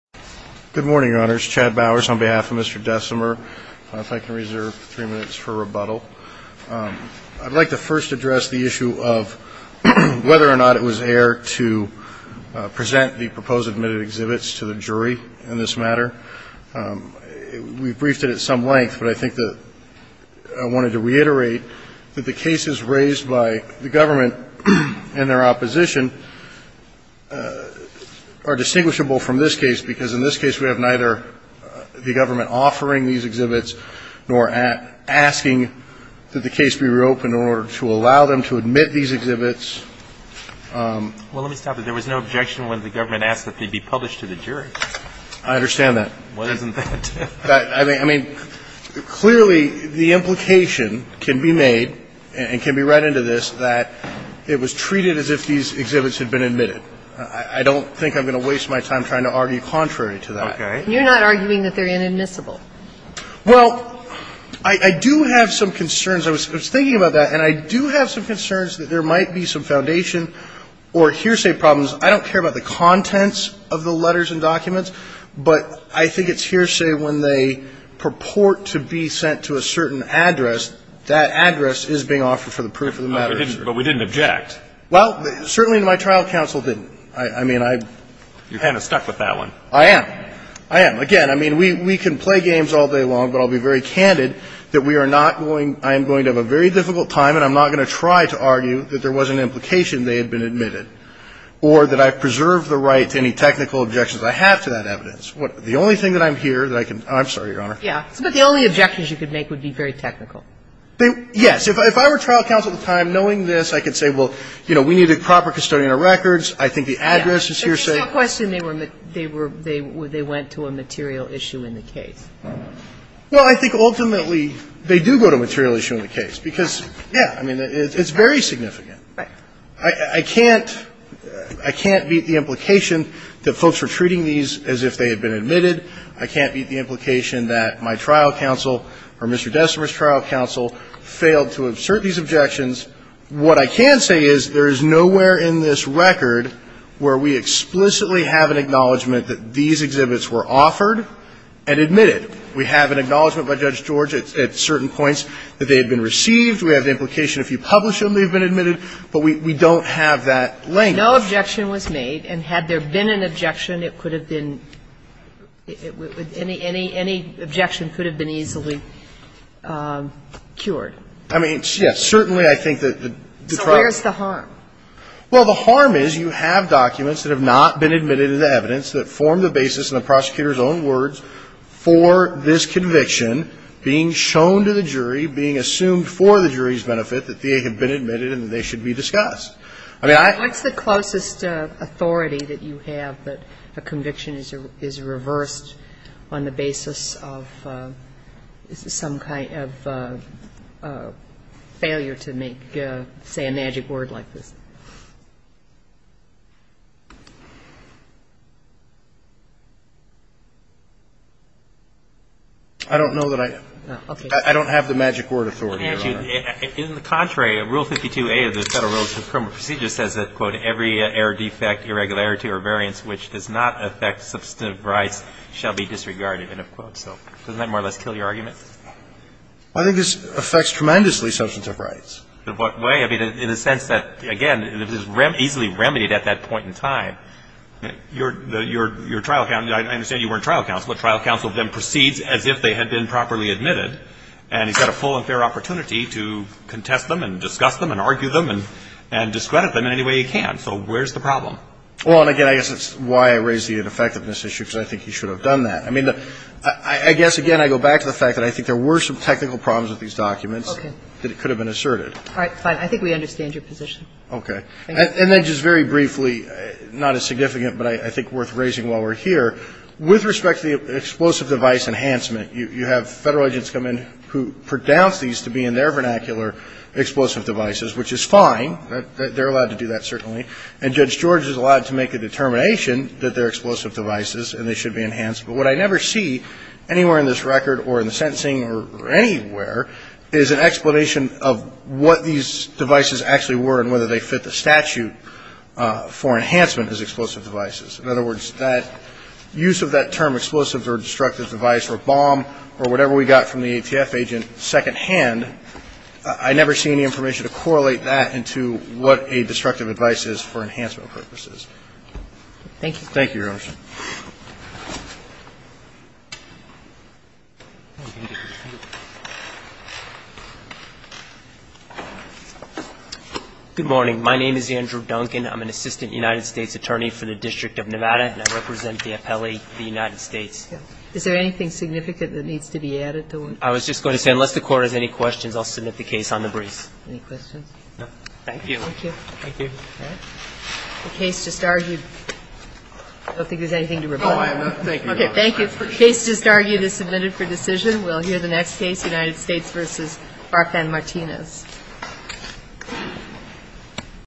on behalf of Mr. Desomer. I don't know if I can reserve three minutes for rebuttal. I'd like to first address the issue of whether or not it was air to present the proposed admitted exhibits to the jury in this matter. We briefed it at some length, but I think that I wanted to reiterate that the cases raised by the government and their opposition are distinguishable from this case, because in this case we have neither the government offering these exhibits nor asking that the case be reopened in order to allow them to admit these exhibits. Well, let me stop there. There was no objection when the government asked that they be published to the jury. I understand that. Why isn't that? I mean, clearly the implication can be made and can be read into this that it was treated as if these exhibits had been admitted. I don't think I'm going to waste my time trying to argue contrary to that. Okay. You're not arguing that they're inadmissible. Well, I do have some concerns. I was thinking about that, and I do have some concerns that there might be some foundation or hearsay problems. I don't care about the contents of the letters and documents, but I think it's hearsay when they purport to be sent to a certain address, that address is being offered for the proof of the matter. But we didn't object. Well, certainly my trial counsel didn't. I mean, I — You're kind of stuck with that one. I am. I am. Again, I mean, we can play games all day long, but I'll be very candid that we are not going — I am going to have a very difficult time, and I'm not going to try to argue that there was an implication they had been admitted or that I've preserved the right to any technical objections I have to that evidence. The only thing that I'm here that I can — I'm sorry, Your Honor. Yeah. But the only objections you could make would be very technical. Yes. If I were trial counsel at the time, knowing this, I could say, well, you know, we need a proper custodian of records. I think the address is hearsay. Yeah. There's no question they were — they were — they went to a material issue in the case. Well, I think ultimately they do go to a material issue in the case, because, yeah, I mean, it's very significant. Right. I can't — I can't beat the implication that folks were treating these as if they had been admitted. I can't beat the implication that my trial counsel or Mr. Desimer's trial counsel failed to assert these objections. What I can say is there is nowhere in this record where we explicitly have an acknowledgment that these exhibits were offered and admitted. We have an acknowledgment by Judge George at certain points that they had been received. We have the implication if you publish them, they've been admitted. But we don't have that language. No objection was made. And had there been an objection, it could have been — any objection could have been easily cured. I mean, yes, certainly I think that the trial — So where's the harm? Well, the harm is you have documents that have not been admitted as evidence that form the basis in the prosecutor's own words for this conviction being shown to the jury, being assumed for the jury's benefit that they have been admitted and that they should be discussed. I mean, I — What's the closest authority that you have that a conviction is reversed on the basis of some kind of failure to make — say a magic word like this? I don't know that I — Okay. In the contrary, Rule 52a of the Federal Rules of Criminal Procedure says that, quote, every error, defect, irregularity, or variance which does not affect substantive rights shall be disregarded, end of quote. So doesn't that more or less kill your argument? I think this affects tremendously substantive rights. In what way? I mean, in the sense that, again, it was easily remedied at that point in time. Your trial counsel — I understand you weren't trial counsel, but trial counsel then proceeds as if they had been properly admitted, and he's got a full and fair opportunity to contest them and discuss them and argue them and discredit them in any way he can. So where's the problem? Well, and again, I guess that's why I raised the ineffectiveness issue, because I think he should have done that. I mean, I guess, again, I go back to the fact that I think there were some technical problems with these documents that could have been asserted. All right. Fine. I think we understand your position. Okay. And then just very briefly, not as significant, but I think worth raising while we're here, with respect to the explosive device enhancement, you have Federal agents come in who pronounce these to be, in their vernacular, explosive devices, which is fine. They're allowed to do that, certainly. And Judge George is allowed to make a determination that they're explosive devices and they should be enhanced. But what I never see anywhere in this record or in the sentencing or anywhere is an explanation of what these devices actually were and whether they fit the statute for enhancement as explosive devices. In other words, that use of that term explosive or destructive device or bomb or whatever we got from the ATF agent secondhand, I never see any information to correlate that into what a destructive device is for enhancement purposes. Thank you, Your Honor. Good morning. My name is Andrew Duncan. I'm an assistant United States attorney for the District of Nevada and I represent the appellee of the United States. Is there anything significant that needs to be added to it? I was just going to say, unless the Court has any questions, I'll submit the case on the briefs. Any questions? No. Thank you. Thank you. The case just argued. I don't think there's anything to reply to. Oh, I will. Thank you. The case just argued is submitted for decision. We'll hear the next case, United States v. Barth and Martinez.